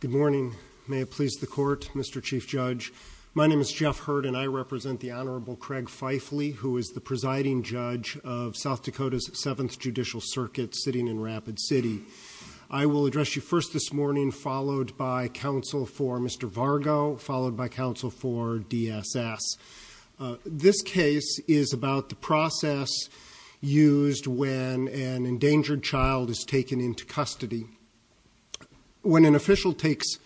Good morning. May it please the court, Mr. Chief Judge. My name is Jeff Hurd, and I represent the Honorable Craig Feifle, who is the presiding judge of South Dakota's 7th Judicial Circuit sitting in Rapid City. I will address you first this morning, followed by counsel for an endangered child is taken into custody. When an official takes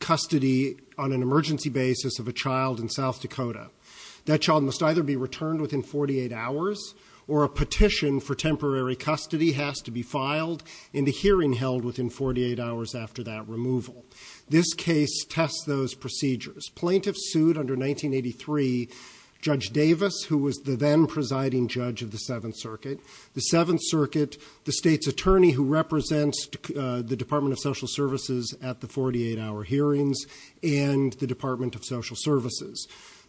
custody on an emergency basis of a child in South Dakota, that child must either be returned within 48 hours or a petition for temporary custody has to be filed in the hearing held within 48 hours after that removal. This case tests those procedures. Plaintiffs sued under 1983 Judge of the 7th Circuit, the 7th Circuit, the state's attorney who represents the Department of Social Services at the 48-hour hearings, and the Department of Social Services.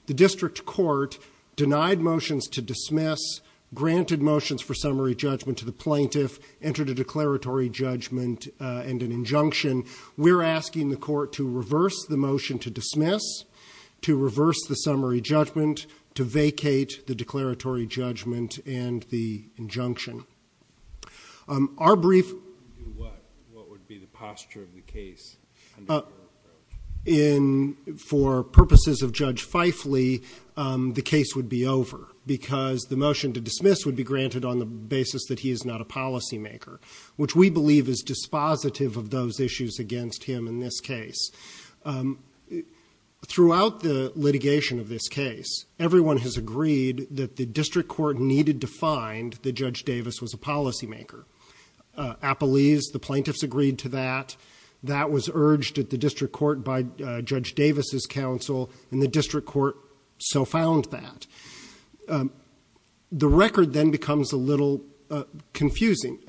The district court denied motions to dismiss, granted motions for summary judgment to the plaintiff, entered a declaratory judgment and an injunction. We're asking the court to reverse the motion to dismiss, to reverse the summary judgment, to vacate the declaratory judgment and the injunction. Our brief... What would be the posture of the case? For purposes of Judge Feifle, the case would be over because the motion to dismiss would be granted on the basis that he is not a policymaker, which we believe is dispositive of those issues against him in this case. Throughout the litigation of this case, everyone has agreed that the district court needed to find that Judge Davis was a policymaker. Appellees, the plaintiffs agreed to that. That was urged at the district court by Judge Davis's counsel, and the district court so found that. The record then becomes a little confusing.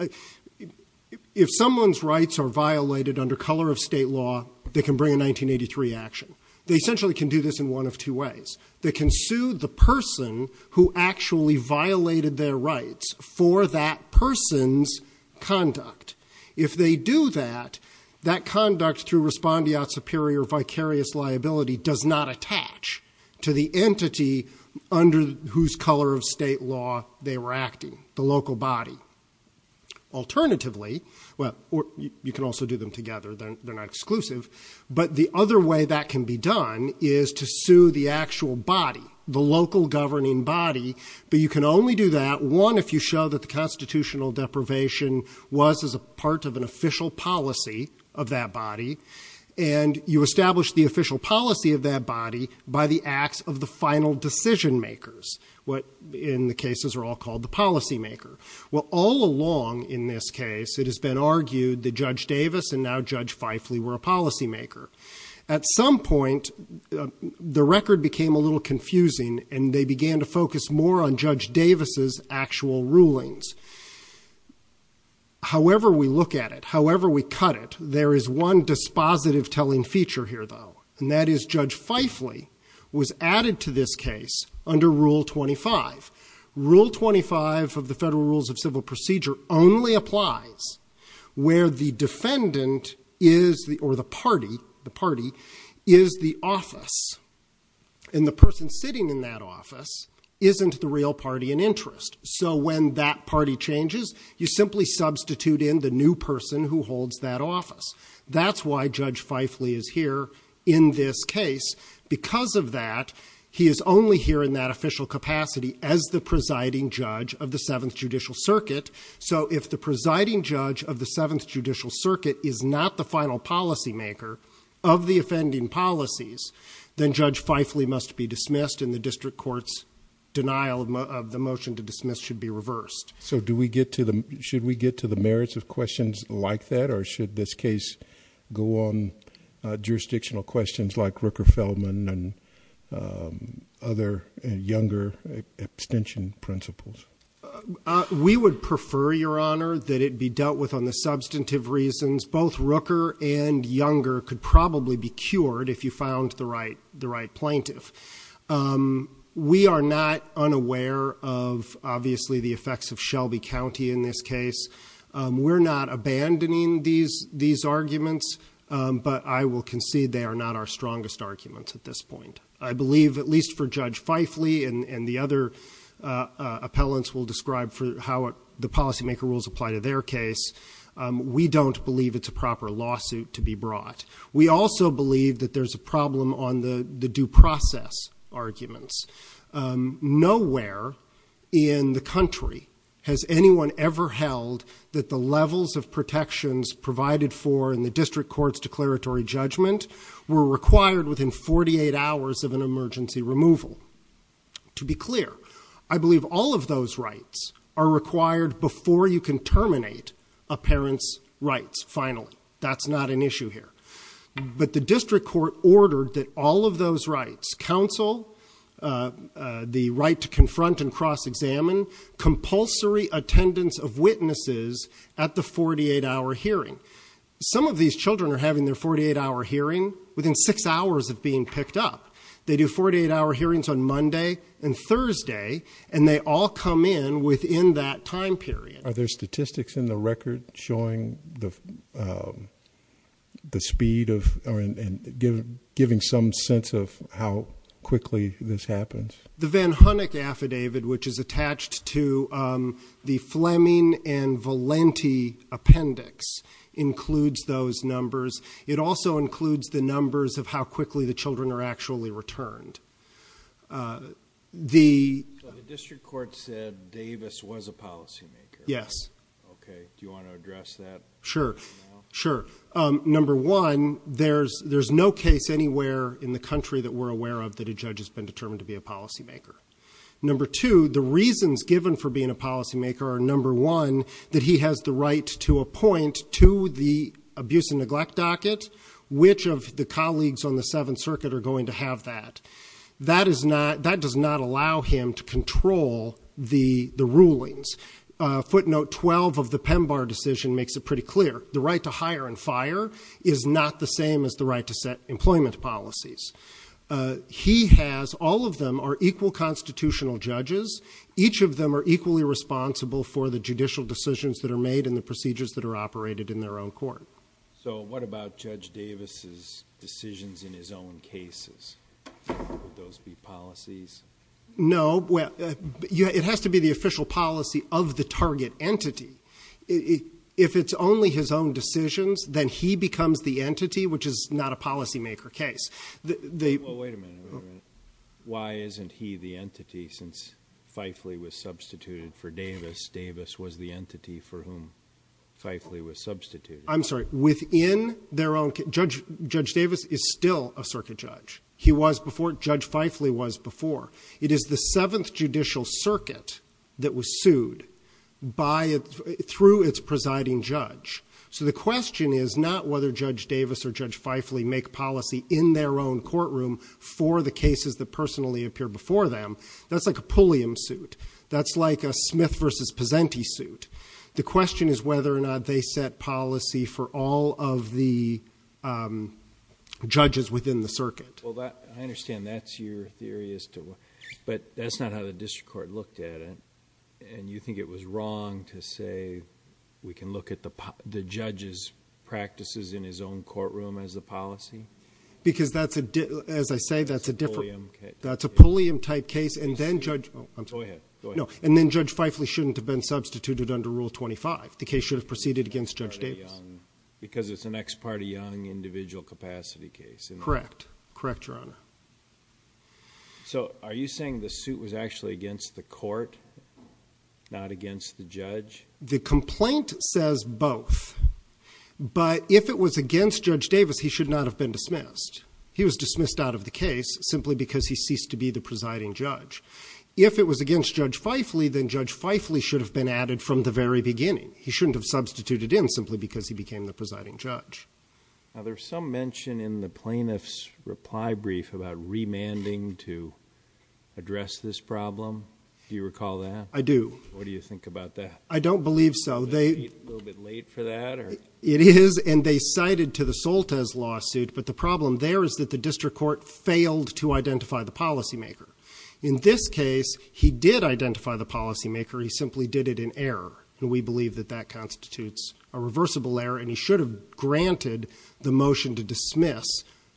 If someone's rights are violated under color of state law, they can bring a 1983 action. They essentially can do this in one of two ways. They can sue the person who actually violated their rights for that person's conduct. If they do that, that conduct through respondeat superior vicarious liability does not attach to the entity under whose color of state law they were acting, the local body. Alternatively, you can also do them together, they're not exclusive, but the other way that can be done is to sue the actual body, the local governing body, but you can only do that, one, if you show that the constitutional deprivation was as a part of an official policy of that body, and you establish the official policy of that body by the acts of the final decision makers. What in the cases are all called the policymaker. Well, all along in this case, it has been the record became a little confusing, and they began to focus more on Judge Davis's actual rulings. However, we look at it, however, we cut it, there is one dispositive telling feature here, though, and that is Judge Fifeley was added to this case under Rule 25. Rule 25 of the Federal Rules of Civil Procedure only applies where the defendant is the or less, and the person sitting in that office isn't the real party in interest. So when that party changes, you simply substitute in the new person who holds that office. That's why Judge Fifeley is here in this case. Because of that, he is only here in that official capacity as the presiding judge of the Seventh Judicial Circuit. So if the presiding judge of the Seventh Judicial Circuit is not the final policymaker of the offending policies, then Judge Fifeley must be dismissed, and the district court's denial of the motion to dismiss should be reversed. So do we get to the, should we get to the merits of questions like that, or should this case go on jurisdictional questions like Rooker-Feldman and other younger abstention principles? We would prefer, Your Honor, that it be dealt with on the substantive reasons. Both Rooker and Younger could probably be cured if you found the right plaintiff. We are not unaware of, obviously, the effects of Shelby County in this case. We're not abandoning these arguments, but I will concede they are not our strongest arguments at this point. Other appellants will describe how the policymaker rules apply to their case. We don't believe it's a proper lawsuit to be brought. We also believe that there's a problem on the due process arguments. Nowhere in the country has anyone ever held that the levels of protections provided for in the district court's declaratory judgment were required within 48 hours of an emergency removal. To be clear, I believe all of those rights are required before you can terminate a parent's rights, finally. That's not an issue here. But the district court ordered that all of those rights, counsel, the right to confront and cross-examine, compulsory attendance of witnesses at the 48-hour hearing. Some of these children are having their 48-hour hearing within six hours of being picked up. They do 48-hour hearings on Monday and Thursday, and they all come in within that time period. Are there statistics in the record showing the speed of, or giving some sense of how quickly this happens? The Van Hunnick Affidavit, which is attached to the Fleming and Valenti Appendix, includes those numbers. It also includes the numbers of how quickly the children are actually returned. The district court said Davis was a policymaker. Yes. Okay. Do you want to address that? Sure. Sure. Number one, there's no case anywhere in the country that we're aware of that a child is a policymaker. Number two, the reasons given for being a policymaker are, number one, that he has the right to appoint to the abuse and neglect docket, which of the colleagues on the Seventh Circuit are going to have that. That does not allow him to control the rulings. Footnote 12 of the PEMBAR decision makes it pretty clear. The right to hire and fire is not the same as the right to set employment policies. He has, all of them are equal constitutional judges. Each of them are equally responsible for the judicial decisions that are made and the procedures that are operated in their own court. So what about Judge Davis's decisions in his own cases? Would those be policies? No. It has to be the official policy of the target entity. If it's only his own decisions, then he becomes the entity, which is not a policymaker case. Well, wait a minute. Why isn't he the entity since Fifeley was substituted for Davis? Davis was the entity for whom Fifeley was substituted. I'm sorry. Within their own, Judge Davis is still a circuit judge. He was before, Judge Fifeley was before. It is the Seventh Judicial Circuit that was sued by, through its presiding judge. So the question is not whether Judge Davis or Judge Fifeley make policy in their own courtroom for the cases that personally appear before them. That's like a Pulliam suit. That's like a Smith v. Pezzenti suit. The question is whether or not they set policy for all of the judges within the circuit. Well, I understand that's your theory as to what, but that's not how the district court looked at it. And you think it was wrong to say we can look at the judge's practices in his own courtroom as a policy? Because that's a, as I say, that's a different, that's a Pulliam type case. And then Judge, and then Judge Fifeley shouldn't have been substituted under Rule 25. The case should have proceeded against Judge Davis. Because it's an ex parte young individual capacity case. Correct. Correct, Your Honor. So, are you saying the suit was actually against the court, not against the judge? The complaint says both. But if it was against Judge Davis, he should not have been dismissed. He was dismissed out of the case simply because he ceased to be the presiding judge. If it was against Judge Fifeley, then Judge Fifeley should have been added from the very beginning. He shouldn't have substituted in simply because he became the presiding judge. Now, there's some mention in the plaintiff's reply brief about remanding to address this problem. Do you recall that? I do. What do you think about that? I don't believe so. Is that a little bit late for that? It is. And they cited to the Soltes lawsuit. But the problem there is that the district court failed to identify the policymaker. In this case, he did identify the policymaker. He simply did it in error. And we believe that that constitutes a reversible error. And he should have granted the motion to dismiss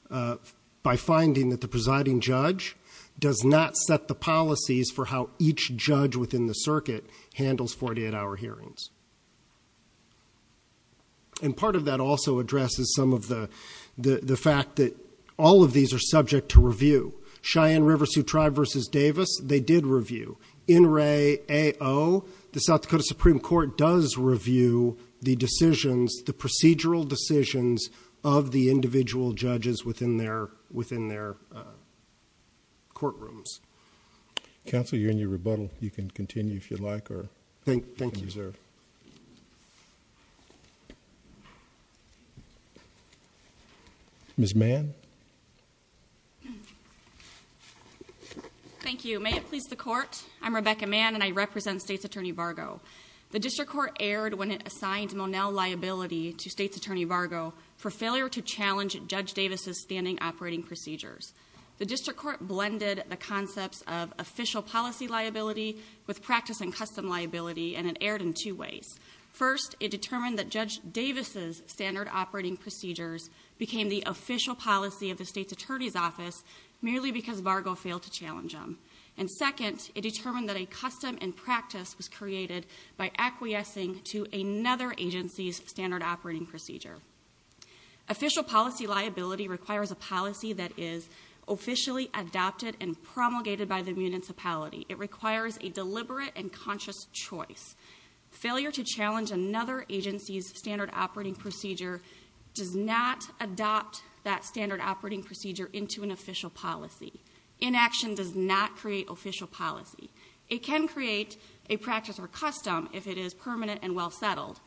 by finding that the presiding judge does not set the policies for how each judge within the circuit handles 48-hour hearings. And part of that also addresses some of the fact that all of these are subject to review. Cheyenne River Sioux Tribe v. Davis, they did review. In Ray A. O., the South Dakota Supreme Court does review the decisions, the procedural decisions of the individual judges within their courtrooms. Counsel, you're in your rebuttal. You can continue if you'd like or you can reserve. Thank you. Ms. Mann. Thank you. May it please the court, I'm Rebecca Mann and I represent State's Attorney Vargo. The district court erred when it assigned Monel liability to State's Attorney Vargo for failure to challenge Judge Davis' standing operating procedures. The district court blended the concepts of official policy liability with practice and custom liability and it erred in two ways. First, it determined that Judge Davis' standard operating procedures became the official policy of the State's Attorney's Office merely because Vargo failed to challenge them. And second, it determined that a custom and practice was created by acquiescing to another agency's standard operating procedure. Official policy liability requires a policy that is officially adopted and promulgated by the municipality. It requires a deliberate and conscious choice. Failure to challenge another agency's standard operating procedure does not adopt that standard operating procedure into an official policy. Inaction does not create official policy. It can create a practice or custom if it is permanent and well settled,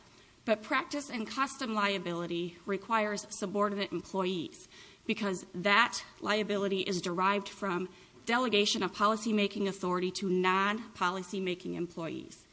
but practice and custom liability requires subordinate employees because that liability is derived from delegation of policymaking authority to non-policymaking employees.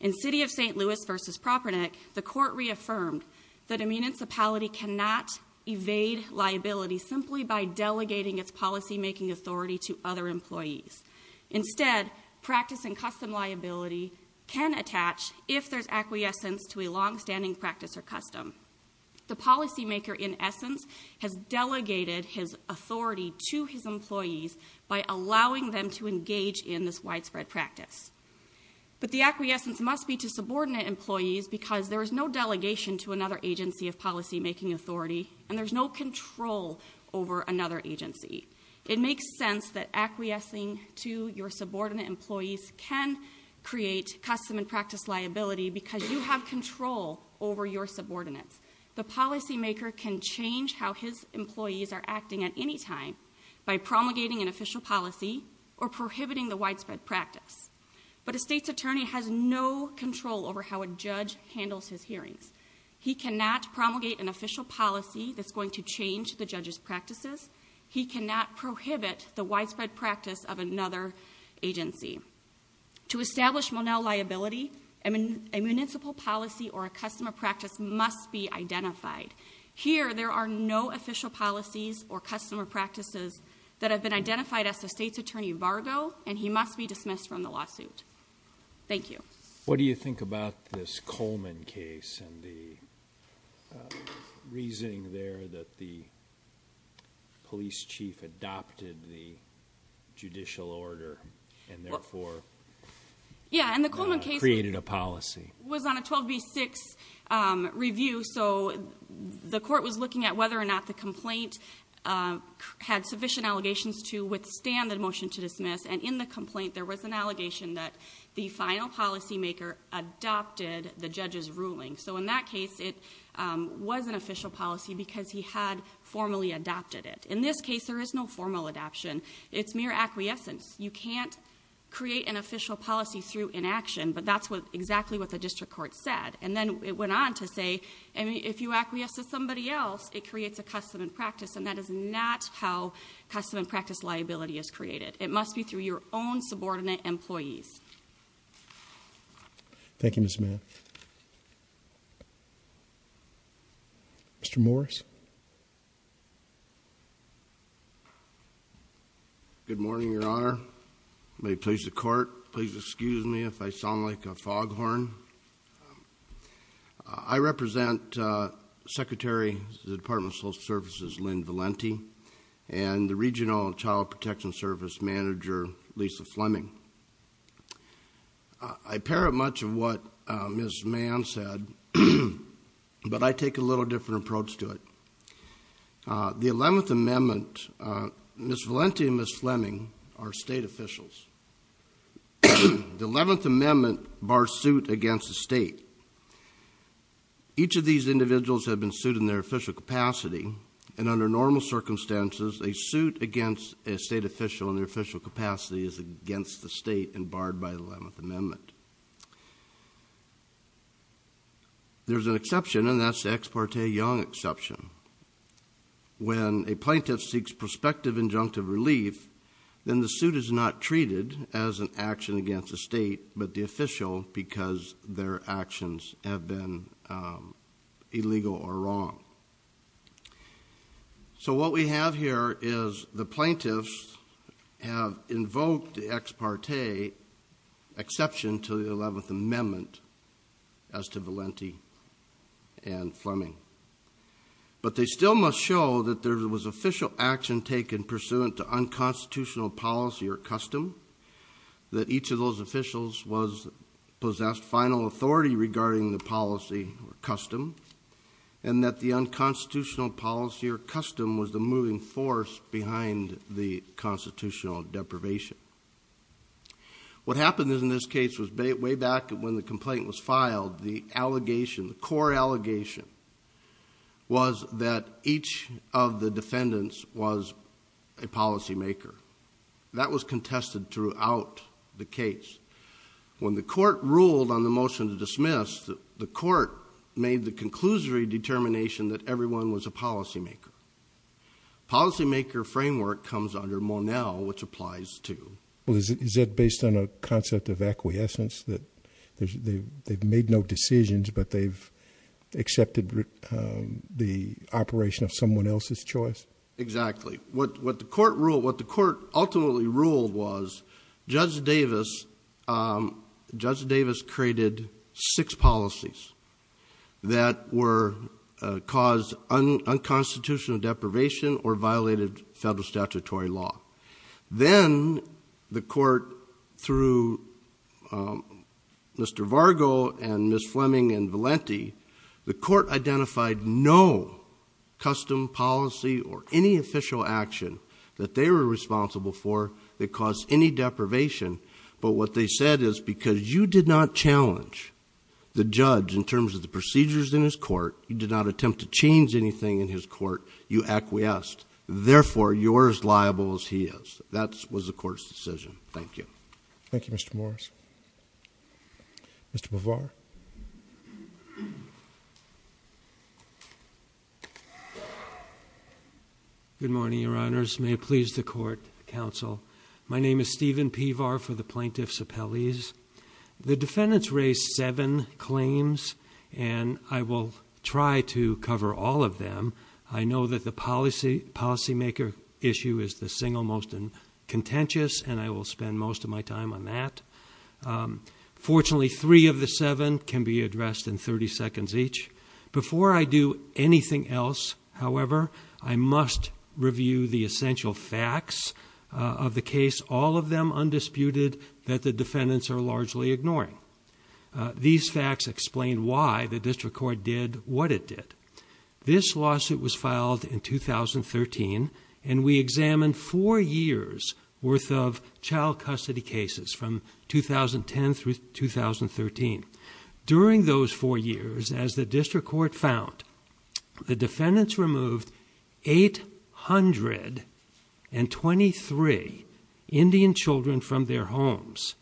In City of St. Louis v. Propernik, the court reaffirmed that a municipality cannot evade liability simply by delegating its policymaking authority to other employees. Instead, practice and custom liability can attach if there's acquiescence to a long-standing practice or custom. The policymaker, in essence, has delegated his authority to his employees by allowing them to engage in this widespread practice. But the acquiescence must be to subordinate employees because there is no delegation to another agency of policymaking authority and there's no control over another agency. It makes sense that acquiescing to your subordinate employees can create custom and practice liability because you have control over your subordinates. The policymaker can change how his employees are acting at any time by promulgating an official policy or prohibiting the widespread practice. But a state's attorney has no control over how a judge handles his hearings. He cannot promulgate an official policy that's going to change the judge's practices. He cannot prohibit the widespread practice of another agency. To establish Monell liability, a municipal policy or a custom or practice must be identified. Here there are no official policies or custom or practices that have been identified as the state's attorney embargo and he must be dismissed from the lawsuit. Thank you. What do you think about this Coleman case and the reasoning there that the police chief adopted the judicial order and therefore created a policy? Yeah, and the Coleman case was on a 12B6 review so the court was looking at whether or not the complaint had sufficient allegations to withstand the motion to dismiss and in the complaint there was an allegation that the final policymaker adopted the judge's ruling. So in that case it was an official policy because he had formally adopted it. In this case there is no formal adoption. It's mere acquiescence. You can't create an official policy through inaction but that's exactly what the district court said. And then it went on to say if you acquiesce to somebody else it creates a custom and practice and that is not how custom and practice liability is created. It must be through your own subordinate employees. Thank you Ms. Mann. Mr. Morris. Good morning, Your Honor. May it please the court, please excuse me if I sound like a foghorn. I represent Secretary of the Department of Social Services Lynn Valenti and the Regional Child Protection Service Manager Lisa Fleming. I parrot much of what Ms. Mann said but I take a little different approach to it. The 11th Amendment, Ms. Valenti and Ms. Fleming are state officials. The 11th Amendment bars suit against the state. Each of these individuals have been sued in their official capacity and under normal circumstances a suit against a state official in their official capacity is against the state and barred by the 11th Amendment. There's an exception and that's the ex parte young exception. When a plaintiff seeks prospective injunctive relief then the suit is not treated as an action against the state but the official because their actions have been illegal or wrong. So what we have here is the plaintiffs have invoked the ex parte exception to the 11th Amendment as to Valenti and Fleming. But they still must show that there was official action taken pursuant to unconstitutional policy or custom, that each of those officials was possessed final authority regarding the unconstitutional policy or custom was the moving force behind the constitutional deprivation. What happened in this case was way back when the complaint was filed, the core allegation was that each of the defendants was a policy maker. That was contested throughout the case. When the court ruled on the motion to dismiss, the court made the conclusory determination that everyone was a policy maker. Policy maker framework comes under Monell which applies to. Is that based on a concept of acquiescence that they've made no decisions but they've accepted the operation of someone else's choice? Exactly. What the court ultimately ruled was Judge Davis created six policies that were caused unconstitutional deprivation or violated federal statutory law. Then the court through Mr. Vargo and Ms. Fleming and Valenti, the court identified no custom policy or any official action that they were responsible for that caused any deprivation. But what they said is because you did not challenge the judge in terms of the procedures in his court, you did not attempt to change anything in his court, you acquiesced. Therefore you're as liable as he is. That was the court's decision. Thank you. Thank you, Mr. Morris. Mr. Pevar. Good morning, your honors. May it please the court, counsel. My name is Steven Pevar for the Plaintiffs Appellees. The defendants raised seven claims and I will try to cover all of them. I know that the policymaker issue is the single most contentious and I will spend most of my time on that. Fortunately, three of the seven can be addressed in 30 seconds each. Before I do anything else, however, I must review the essential facts of the case, all of them undisputed that the defendants are largely ignoring. These facts explain why the district court did what it did. This lawsuit was filed in 2013 and we examined four years worth of child custody cases from 2010 through 2013. During those four years, as the district court found, the defendants removed 823 Indian children from their homes.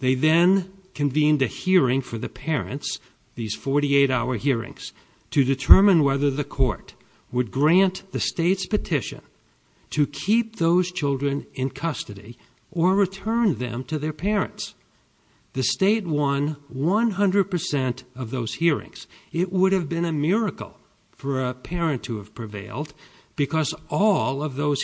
They then convened a hearing for the parents, these 48-hour hearings, to determine whether the court would grant the state's petition to keep those children in custody or return them to their parents. The state won 100% of those hearings. It would have been a miracle for a parent to have prevailed because all of those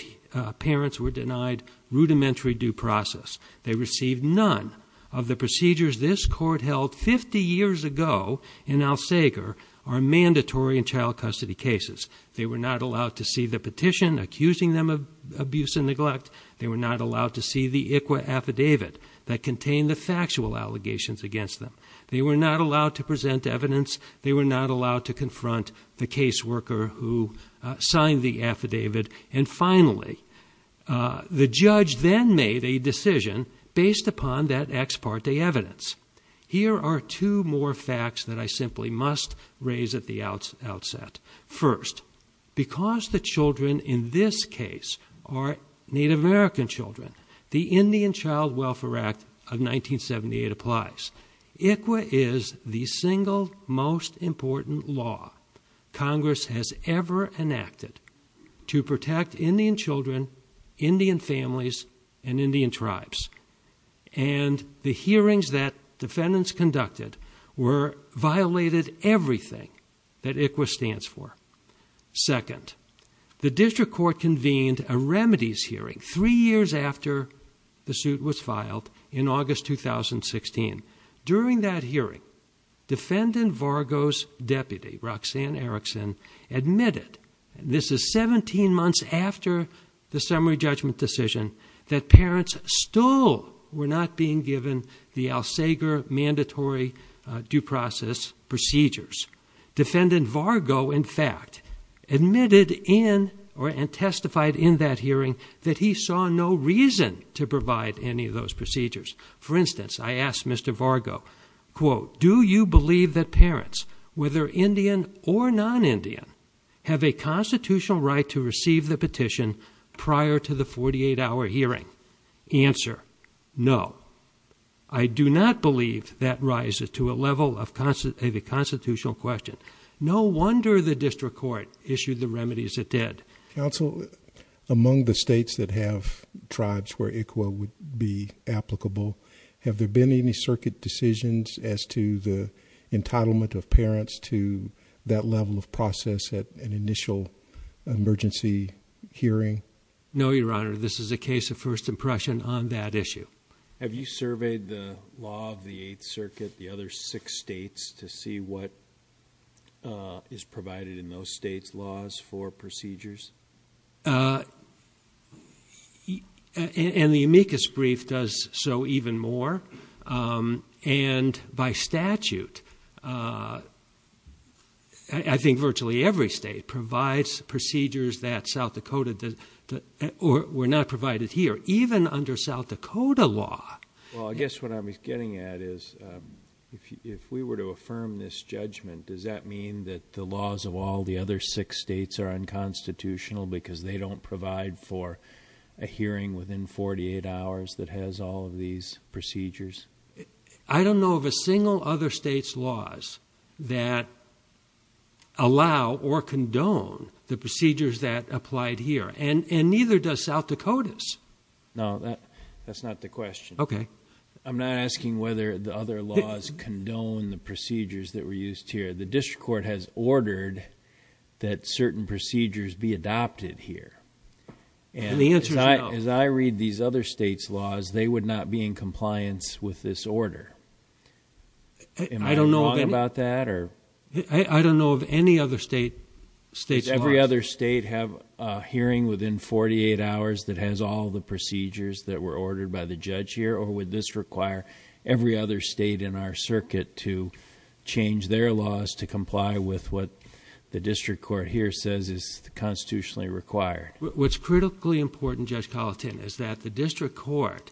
parents were denied rudimentary due process. They received none of the procedures this court held 50 years ago in El Segre are mandatory in child custody cases. They were not allowed to see the petition accusing them of abuse and neglect. They were not allowed to see the ICWA affidavit that contained the factual allegations against them. They were not allowed to present evidence. They were not allowed to confront the caseworker who signed the affidavit. And finally, the judge then made a decision based upon that ex parte evidence. Here are two more facts that I simply must raise at the outset. First, because the children in this case are Native American children, the Indian Child Welfare Act of 1978 applies. ICWA is the single most important law Congress has ever enacted to protect Indian children, Indian families, and Indian tribes. And the hearings that defendants conducted violated everything that ICWA stands for. Second, the district court convened a remedies hearing three years after the suit was filed in August 2016. During that hearing, Defendant Vargo's deputy, Roxanne Erickson, admitted, and this is 17 months after the summary judgment decision, that parents still were not being given the ALSEGRA mandatory due process procedures. Defendant Vargo, in fact, admitted and testified in that hearing that he saw no reason to provide any of those procedures. For instance, I asked Mr. Vargo, quote, do you believe that parents, whether Indian or non-Indian, have a constitutional right to receive the petition prior to the 48-hour hearing? Answer, no. I do not believe that rises to a level of a constitutional question. No wonder the district court issued the remedies it did. Counsel, among the states that have tribes where ICWA would be applicable, have there been any process at an initial emergency hearing? No, Your Honor. This is a case of first impression on that issue. Have you surveyed the law of the Eighth Circuit, the other six states, to see what is provided in those states' laws for procedures? And the amicus brief does so even more. And by statute, I think virtually every state provides procedures that South Dakota were not provided here, even under South Dakota law. Well, I guess what I'm getting at is if we were to affirm this judgment, does that mean that the laws of all the other six states are unconstitutional because they don't provide for a hearing within 48 hours that has all of these procedures? I don't know of a single other state's laws that allow or condone the procedures that applied here, and neither does South Dakota's. No, that's not the question. Okay. I'm not asking whether the other laws condone the procedures that were used here. The district court has ordered that certain procedures be adopted here. And the answer is no. As I read these other states' laws, they would not be in compliance with this order. Am I wrong about that? I don't know of any other state's laws. Does every other state have a hearing within 48 hours that has all the procedures that were ordered by the judge here, or would this require every other state in our circuit to change their laws to comply with what the district court here says is constitutionally required? What's critically important, Judge Colitane, is that the district court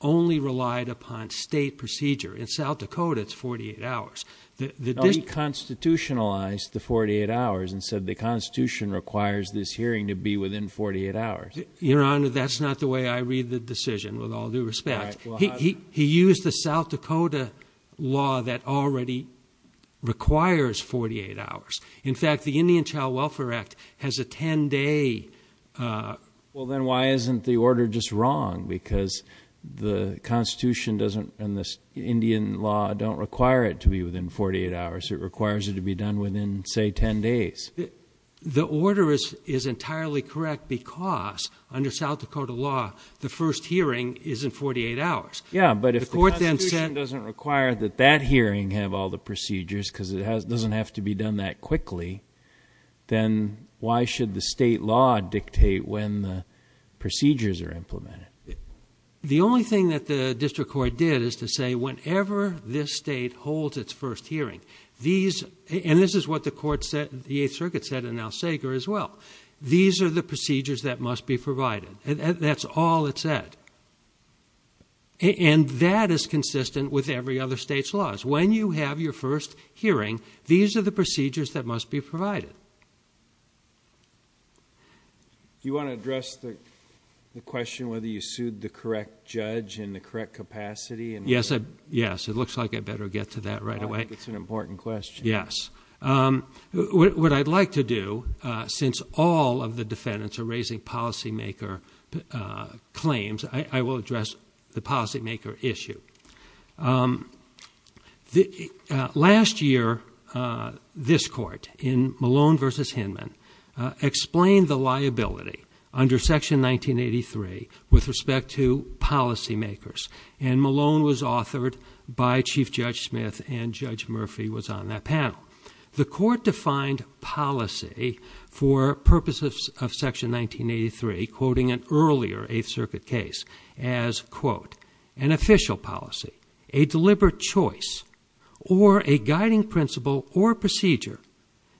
only relied upon state procedure. In South Dakota, it's 48 hours. The district— No, he constitutionalized the 48 hours and said the Constitution requires this hearing to be within 48 hours. Your Honor, that's not the way I read the decision, with all due respect. He used the South Dakota law that already requires 48 hours. In fact, the Indian Child Welfare Act has a 10-day— Well, then why isn't the order just wrong? Because the Constitution and the Indian law don't require it to be within 48 hours. It requires it to be done within, say, 10 days. The order is entirely correct because, under South Dakota law, the first hearing is in 48 hours. Yeah, but if the Constitution doesn't require that that hearing have all the procedures, because it doesn't have to be done that quickly, then why should the state law dictate when the procedures are implemented? The only thing that the district court did is to say, whenever this state holds its first hearing, these—and this is what the court said, the Eighth Circuit said, and now Sager as well—these are the procedures that must be provided. That's all it said. And that is consistent with every other state's laws. When you have your first hearing, these are the procedures that must be provided. Do you want to address the question whether you sued the correct judge in the correct capacity? Yes, it looks like I better get to that right away. I think it's an important question. Yes. What I'd like to do, since all of the defendants are raising policymaker claims, I will address the policymaker issue. Last year, this court, in Malone v. Hinman, explained the liability under Section 1983 with respect to policymakers, and Malone was authored by Chief Judge Smith and Judge Murphy was on that panel. The court defined policy for purposes of Section 1983, quoting an earlier Eighth Circuit case as, quote, an official policy, a deliberate choice, or a guiding principle or procedure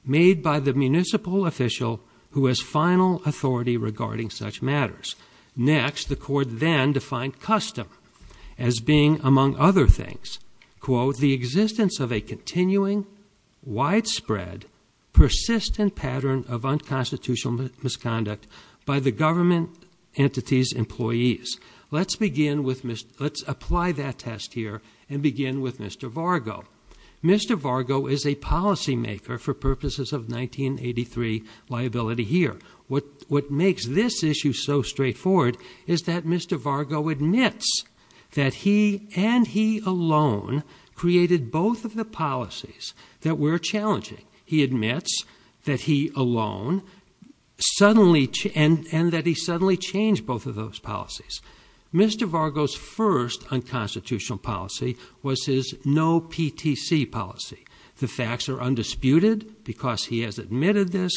made by the municipal official who has final authority regarding such matters. Next, the court then defined custom as being, among other things, quote, the existence of a continuing, widespread, persistent pattern of unconstitutional misconduct by the government entity's employees. Let's begin with, let's apply that test here and begin with Mr. Vargo. Mr. Vargo is a policymaker for purposes of 1983 liability here. What makes this issue so straightforward is that Mr. Vargo admits that he and he alone created both of the policies that were challenging. He admits that he alone suddenly, and that he suddenly changed both of those policies. Mr. Vargo's first unconstitutional policy was his no PTC policy. The facts are undisputed because he has admitted this,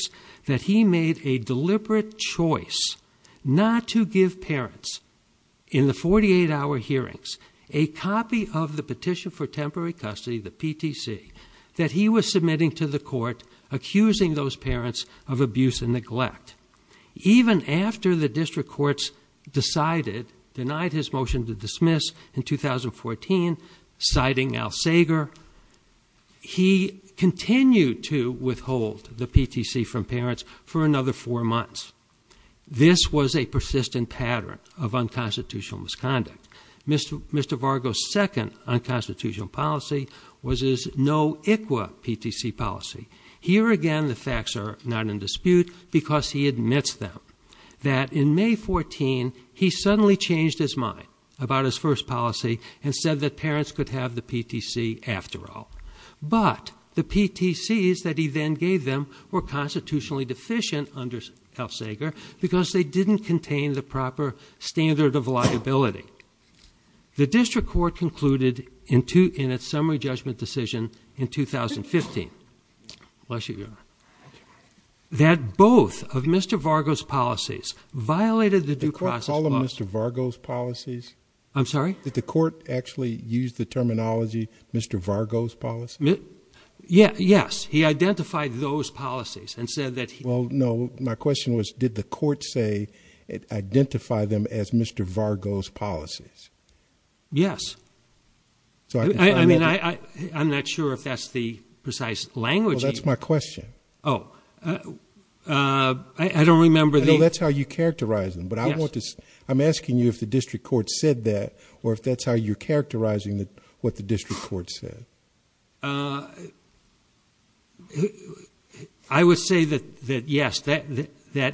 that he made a deliberate choice not to give parents, in the 48-hour hearings, a copy of the petition for temporary custody, the PTC, that he was submitting to the court, accusing those parents of abuse and neglect. Even after the district courts decided, denied his motion to dismiss in 2014, citing Al Sager, he continued to withhold the PTC from parents for another four months. This was a persistent pattern of unconstitutional misconduct. Mr. Vargo's second unconstitutional policy was his no ICWA PTC policy. Here again, the facts are not in dispute because he admits them, that in May 14, he suddenly changed his mind about his first policy and said that parents could have the PTC after all. But the PTCs that he then gave them were constitutionally deficient under Al Sager because they didn't contain the proper standard of liability. The district court concluded in its summary judgment decision in 2015, that both of Mr. Vargo's policies violated the due process- Did the court call them Mr. Vargo's policies? I'm sorry? Did the court actually use the terminology Mr. Vargo's policy? Yes, he identified those policies and said that- Well, no, my question was, did the court say, identify them as Mr. Vargo's policies? Yes. I'm not sure if that's the precise language- Well, that's my question. Oh, I don't remember the- That's how you characterize them, but I want to- I'm asking you if the district court said that, or if that's how you're characterizing what the district court said. I would say that yes, that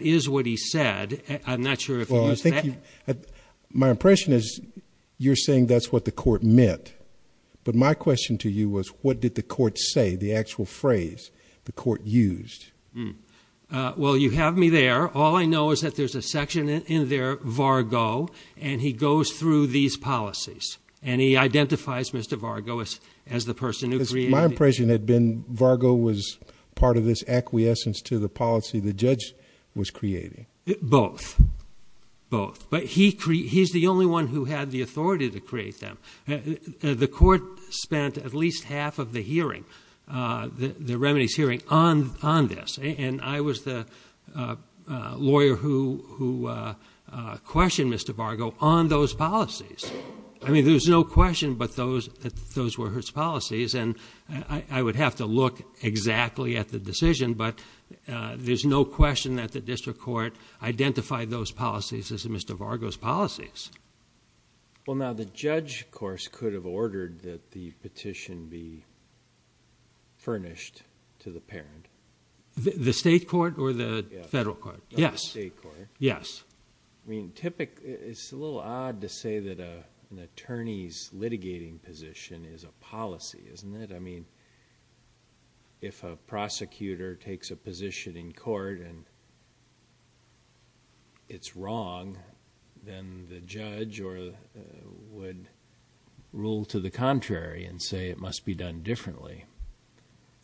is what he said. I'm not sure if he used that- My impression is you're saying that's what the court meant, but my question to you was, what did the court say, the actual phrase the court used? Well, you have me there. All I know is that there's a section in there, Vargo, and he goes through these policies, and he identifies Mr. Vargo as the person who created- My impression had been Vargo was part of this acquiescence to the policy the judge was creating. Both, both. But he's the only one who had the authority to create them. The court spent at least half of the hearing, the remedies hearing, on this, and I was the lawyer who questioned Mr. Vargo on those policies. I mean, there's no question, but those were his policies, and I would have to look exactly at the decision, but there's no question that the district court identified those policies as Mr. Vargo's policies. Well, now the judge, of course, could have ordered that the petition be furnished to the parent. The state court or the federal court? Yes. The state court. Yes. I mean, it's a little odd to say that an attorney's litigating position is a policy, isn't it? I mean, if a prosecutor takes a position in court and it's wrong, then the judge would rule to the contrary and say it must be done differently.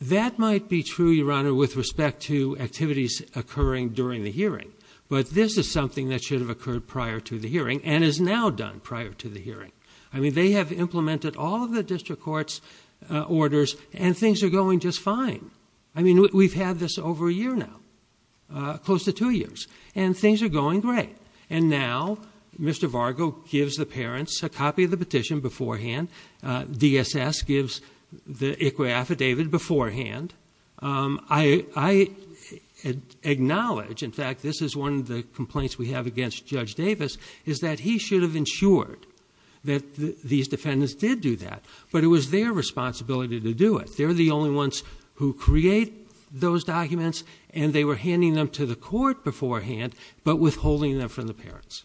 That might be true, Your Honor, with respect to activities occurring during the hearing, but this is something that should have occurred prior to the hearing and is now done prior to the hearing. I mean, they have implemented all of the district court's orders and things are going just fine. I mean, we've had this over a year now, close to two years, and things are going great, and now Mr. Vargo gives the parents a copy of the petition beforehand. DSS gives the ICWA affidavit beforehand. I acknowledge, in fact, this is one of the complaints we have against Judge Davis, is that he should have ensured that these defendants did do that, but it was their responsibility to do it. They're the only ones who create those documents, and they were handing them to the court beforehand, but withholding them from the parents.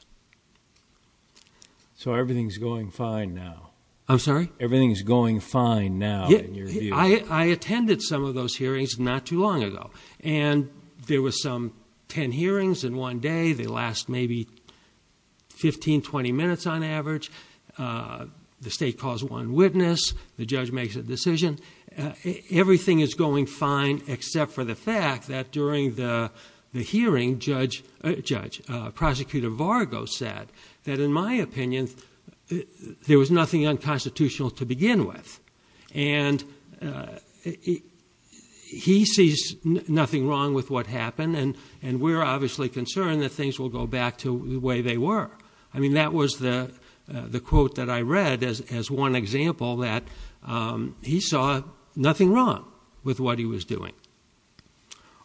So everything's going fine now? I'm sorry? Everything's going fine now, in your view? I attended some of those hearings not too long ago, and there were some 10 hearings in one day. They last maybe 15, 20 minutes on average. The state calls one witness. The judge makes a decision. Everything is going fine, except for the fact that during the hearing, Prosecutor Vargo said that, in my opinion, there was nothing unconstitutional to begin with, and he sees nothing wrong with what happened, and we're obviously concerned that things will go back to the way they were. I mean, that was the quote that I read as one example, that he saw nothing wrong with what he was doing.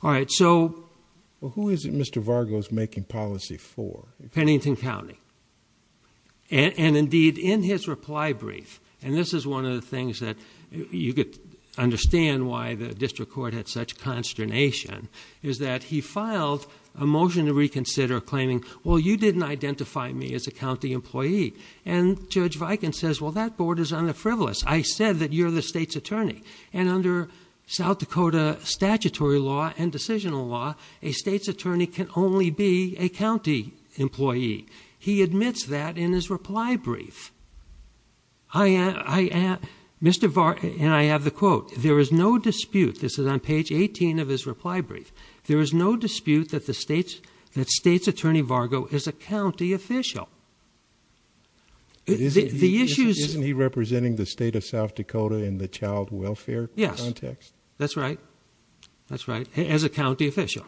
Well, who is it Mr. Vargo's making policy for? Pennington County. And indeed, in his reply brief, and this is one of the things that you could understand why the district court had such consternation, is that he filed a motion to reconsider claiming, well, you didn't identify me as a county employee. And Judge Viken says, well, that board is on the frivolous. I said that you're the state's attorney, and under South Dakota statutory law and decisional law, a state's attorney can only be a county employee. He admits that in his reply brief. Mr. Vargo, and I have the quote, there is no dispute, this is on page 18 of his reply brief, there is no dispute that the state's attorney Vargo is a county official. The issue is- Isn't he representing the state of South Dakota in the child welfare context? Yes, that's right. That's right, as a county official.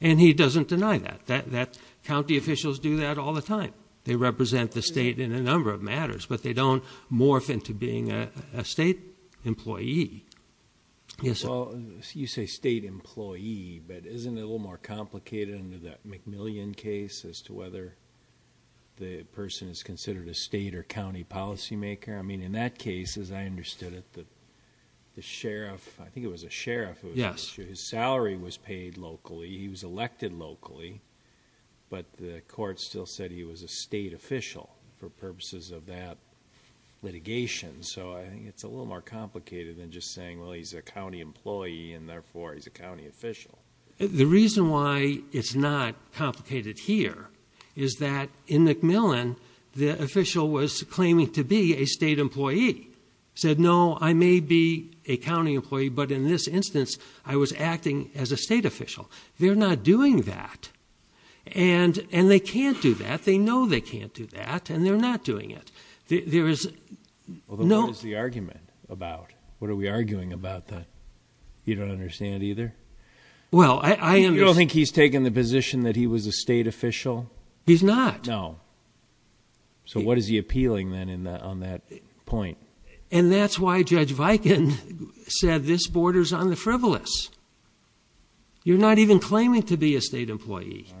And he doesn't deny that. County officials do that all the time. They represent the state in a number of matters, but they don't morph into being a state employee. Well, you say state employee, but isn't it a little more complicated under that McMillian case as to whether the person is considered a state or county policymaker? I mean, in that case, as I understood it, the sheriff, I think it was a sheriff- Yes. His salary was paid locally, he was elected locally, but the court still said he was a state official for purposes of that litigation. So I think it's a little more complicated than just saying, well, he's a county employee and therefore he's a county official. The reason why it's not complicated here is that in McMillian, the official was claiming to be a state employee. Said, no, I may be a county employee, but in this instance, I was acting as a state official. They're not doing that. And they can't do that, they know they can't do that, and they're not doing it. There is- What is the argument about? What are we arguing about then? You don't understand either? Well, I am- You don't think he's taking the position that he was a state official? He's not. No. So what is he appealing then on that point? And that's why Judge Viken said this borders on the frivolous. You're not even claiming to be a state employee.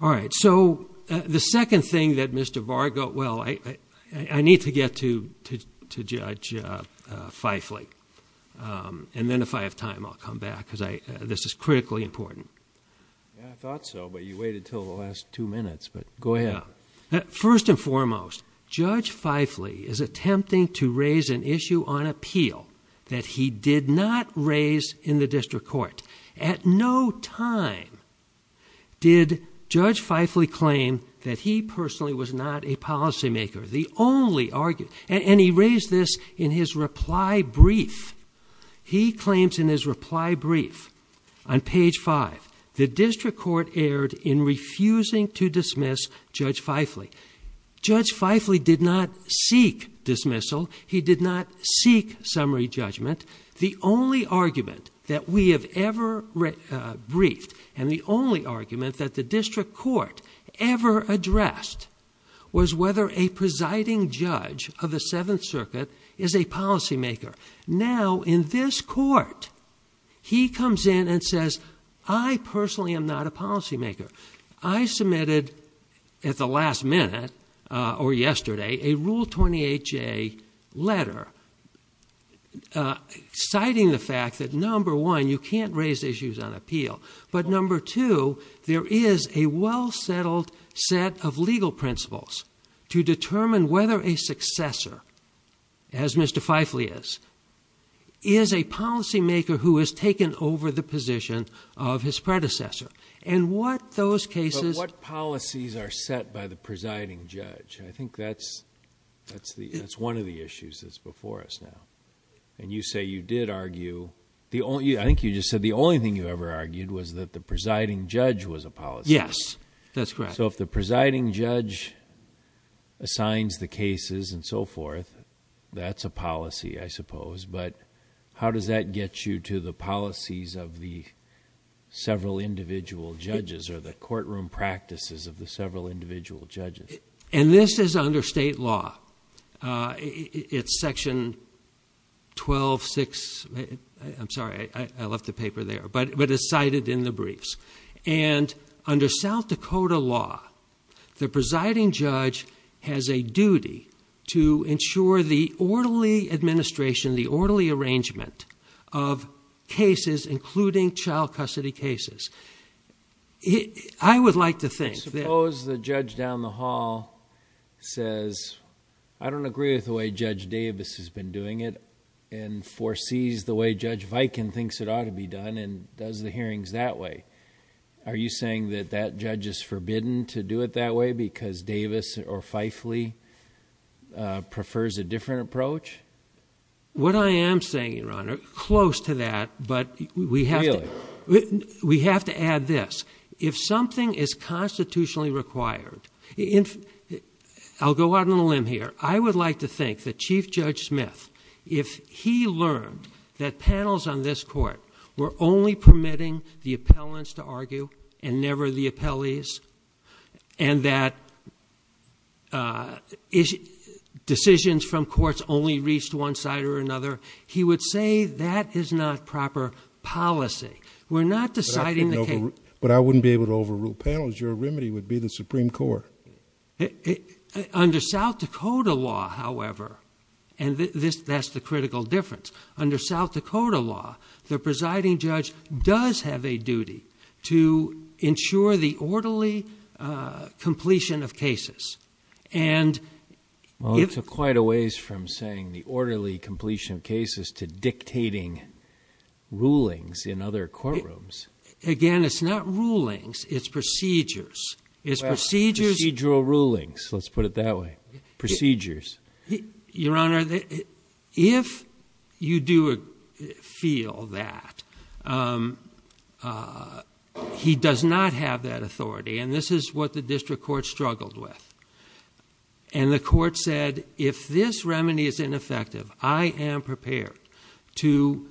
All right. So the second thing that Mr. Varga- I need to get to Judge Feifle. And then if I have time, I'll come back because this is critically important. Yeah, I thought so, but you waited until the last two minutes, but go ahead. First and foremost, Judge Feifle is attempting to raise an issue on appeal that he did not raise in the district court. At no time did Judge Feifle claim that he personally was not a policymaker. And he raised this in his reply brief. He claims in his reply brief on page five, the district court erred in refusing to dismiss Judge Feifle. Judge Feifle did not seek dismissal. He did not seek summary judgment. The only argument that we have ever briefed, and the only argument that the district court ever addressed, was whether a presiding judge of the Seventh Circuit is a policymaker. Now in this court, he comes in and says, I personally am not a policymaker. I submitted at the last minute, or yesterday, a Rule 28J letter. Citing the fact that, number one, you can't raise issues on appeal. But number two, there is a well-settled set of legal principles to determine whether a successor, as Mr. Feifle is, is a policymaker who has taken over the position of his predecessor. And what those cases- But what policies are set by the presiding judge? I think that's one of the issues that's before us now. And you say you did argue- I think you just said the only thing you ever argued was that the presiding judge was a policymaker. Yes, that's correct. So if the presiding judge assigns the cases and so forth, that's a policy, I suppose. But how does that get you to the policies of the several individual judges, or the courtroom practices of the several individual judges? And this is under state law. It's section 12-6. I'm sorry, I left the paper there. But it's cited in the briefs. And under South Dakota law, the presiding judge has a duty to ensure the orderly administration, the orderly arrangement of cases, including child custody cases. I would like to think that- says, I don't agree with the way Judge Davis has been doing it, and foresees the way Judge Viken thinks it ought to be done, and does the hearings that way. Are you saying that that judge is forbidden to do it that way because Davis or Fifeley prefers a different approach? What I am saying, Your Honor, close to that. But we have to add this. If something is constitutionally required, I'll go out on a limb here. I would like to think that Chief Judge Smith, if he learned that panels on this court were only permitting the appellants to argue, and never the appellees, and that decisions from courts only reached one side or another, he would say that is not proper policy. We're not deciding the case- But I wouldn't be able to overrule panels. Your remedy would be the Supreme Court. It- under South Dakota law, however, and this- that's the critical difference. Under South Dakota law, the presiding judge does have a duty to ensure the orderly completion of cases. And if- Well, it's quite a ways from saying the orderly completion of cases to dictating rulings in other courtrooms. Again, it's not rulings. It's procedures. It's procedures- Procedural rulings. Let's put it that way. Procedures. Your Honor, if you do feel that, he does not have that authority, and this is what the district court struggled with. And the court said, if this remedy is ineffective, I am prepared to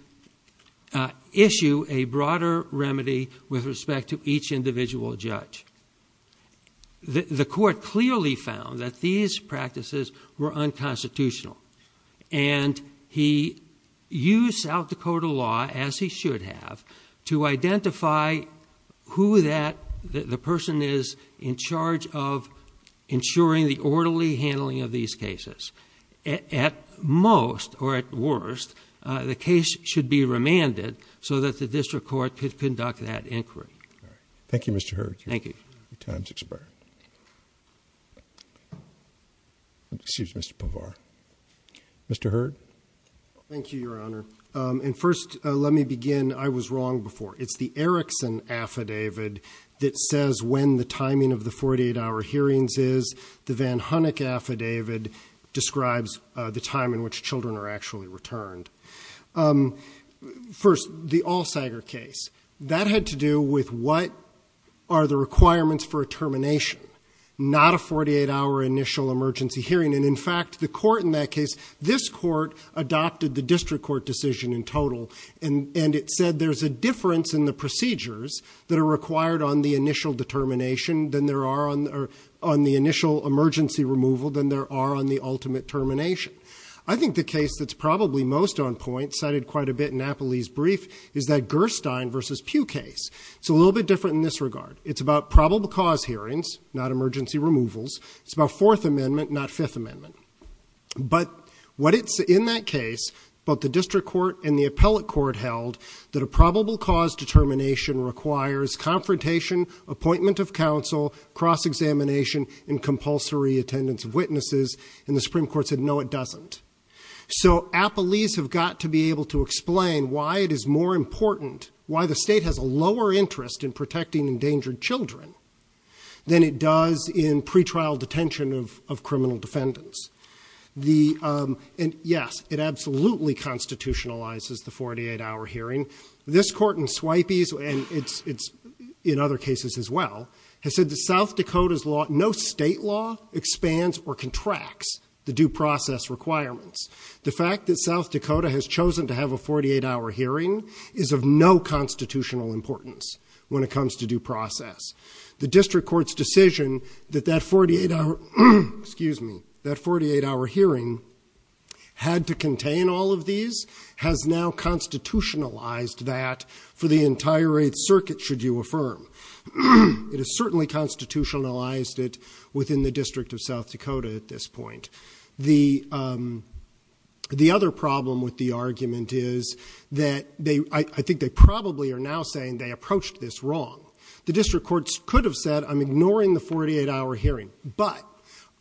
issue a broader remedy with respect to each individual judge. The court clearly found that these practices were unconstitutional. And he used South Dakota law, as he should have, to identify who that- the person is in charge of ensuring the orderly handling of these cases. At most, or at worst, the case should be remanded so that the district court could conduct that inquiry. All right. Thank you, Mr. Hurd. Time's expired. Excuse me, Mr. Povar. Mr. Hurd? Thank you, Your Honor. And first, let me begin. I was wrong before. It's the Erickson affidavit that says when the timing of the 48-hour hearings is. The Van Hunnick affidavit describes the time in which children are actually returned. First, the Allsager case. That had to do with what are the requirements for a termination, not a 48-hour initial emergency hearing. And in fact, the court in that case, this court adopted the district court decision in total. And it said there's a difference in the procedures that are required on the initial determination than there are on the initial emergency removal than there are on the ultimate termination. I think the case that's probably most on point, cited quite a bit in Napoli's brief, is that Gerstein v. Pugh case. It's a little bit different in this regard. It's about probable cause hearings, not emergency removals. It's about Fourth Amendment, not Fifth Amendment. But what it's in that case, both the district court and the appellate court held that a probable cause determination requires confrontation, appointment of counsel, cross-examination, and compulsory attendance of witnesses. And the Supreme Court said, no, it doesn't. So appellees have got to be able to explain why it is more important, why the state has a lower interest in protecting endangered children than it does in pretrial detention of criminal defendants. And yes, it absolutely constitutionalizes the 48-hour hearing. This court in Swipey's, and it's in other cases as well, has said that South Dakota's law, no state law expands or contracts the due process requirements. The fact that South Dakota has chosen to have a 48-hour hearing is of no constitutional importance when it comes to due process. The district court's decision that that 48-hour, excuse me, that 48-hour hearing had to contain all of these has now constitutionalized that for the entire Eighth Circuit, should you affirm. It has certainly constitutionalized it within the District of South Dakota at this point. The other problem with the argument is that I think they probably are now saying they approached this wrong. The district courts could have said, I'm ignoring the 48-hour hearing, but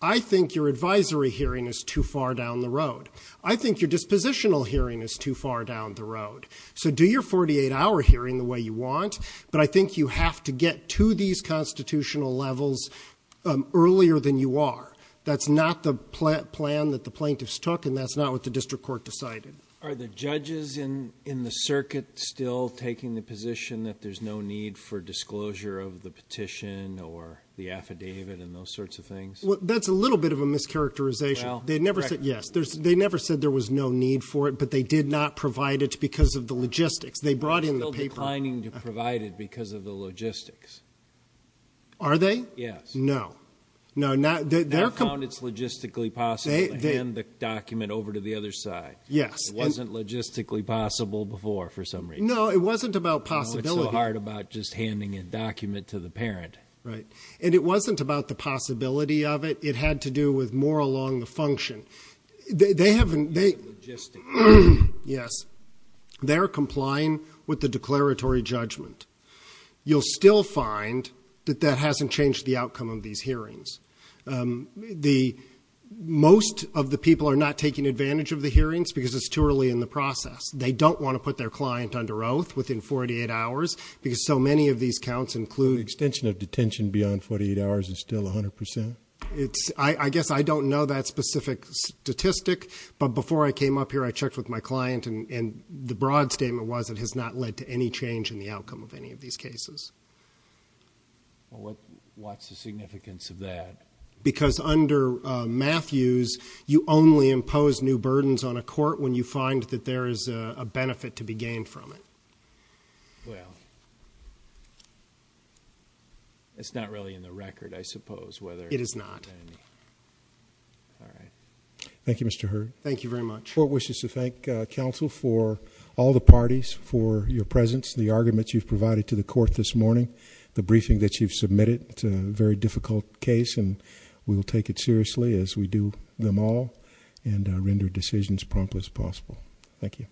I think your advisory hearing is too far down the road. I think your dispositional hearing is too far down the road. So do your 48-hour hearing the way you want, but I think you have to get to these constitutional levels earlier than you are. That's not the plan that the plaintiffs took, and that's not what the district court decided. Are the judges in the circuit still taking the position that there's no need for disclosure of the petition or the affidavit and those sorts of things? That's a little bit of a mischaracterization. They'd never said, yes. They never said there was no need for it, but they did not provide it because of the logistics. They brought in the paper. Still declining to provide it because of the logistics. Are they? Yes. No, no. They found it's logistically possible to hand the document over to the other side. Yes. It wasn't logistically possible before, for some reason. No, it wasn't about possibility. It's so hard about just handing a document to the parent. Right, and it wasn't about the possibility of it. It had to do with more along the function. They haven't. Yes, they're complying with the declaratory judgment. You'll still find that that hasn't changed the outcome of these hearings. The most of the people are not taking advantage of the hearings because it's too early in the process. They don't want to put their client under oath within 48 hours because so many of these counts include. Extension of detention beyond 48 hours is still 100%. It's I guess I don't know that specific statistic, but before I came up here, I checked with my client and the broad statement was it has not led to any change in the outcome of any of these cases. Well, what's the significance of that? Because under Matthews, you only impose new burdens on a court when you find that there is a benefit to be gained from it. Well. It's not really in the record, I suppose, whether it is not. All right, thank you, Mr. Heard. Thank you very much for wishes to thank counsel for all the parties for your presence, the arguments you've provided to the court this morning, the briefing that you've submitted to very difficult case and we will take it seriously as we do them all and render decisions prompt as possible. Thank you.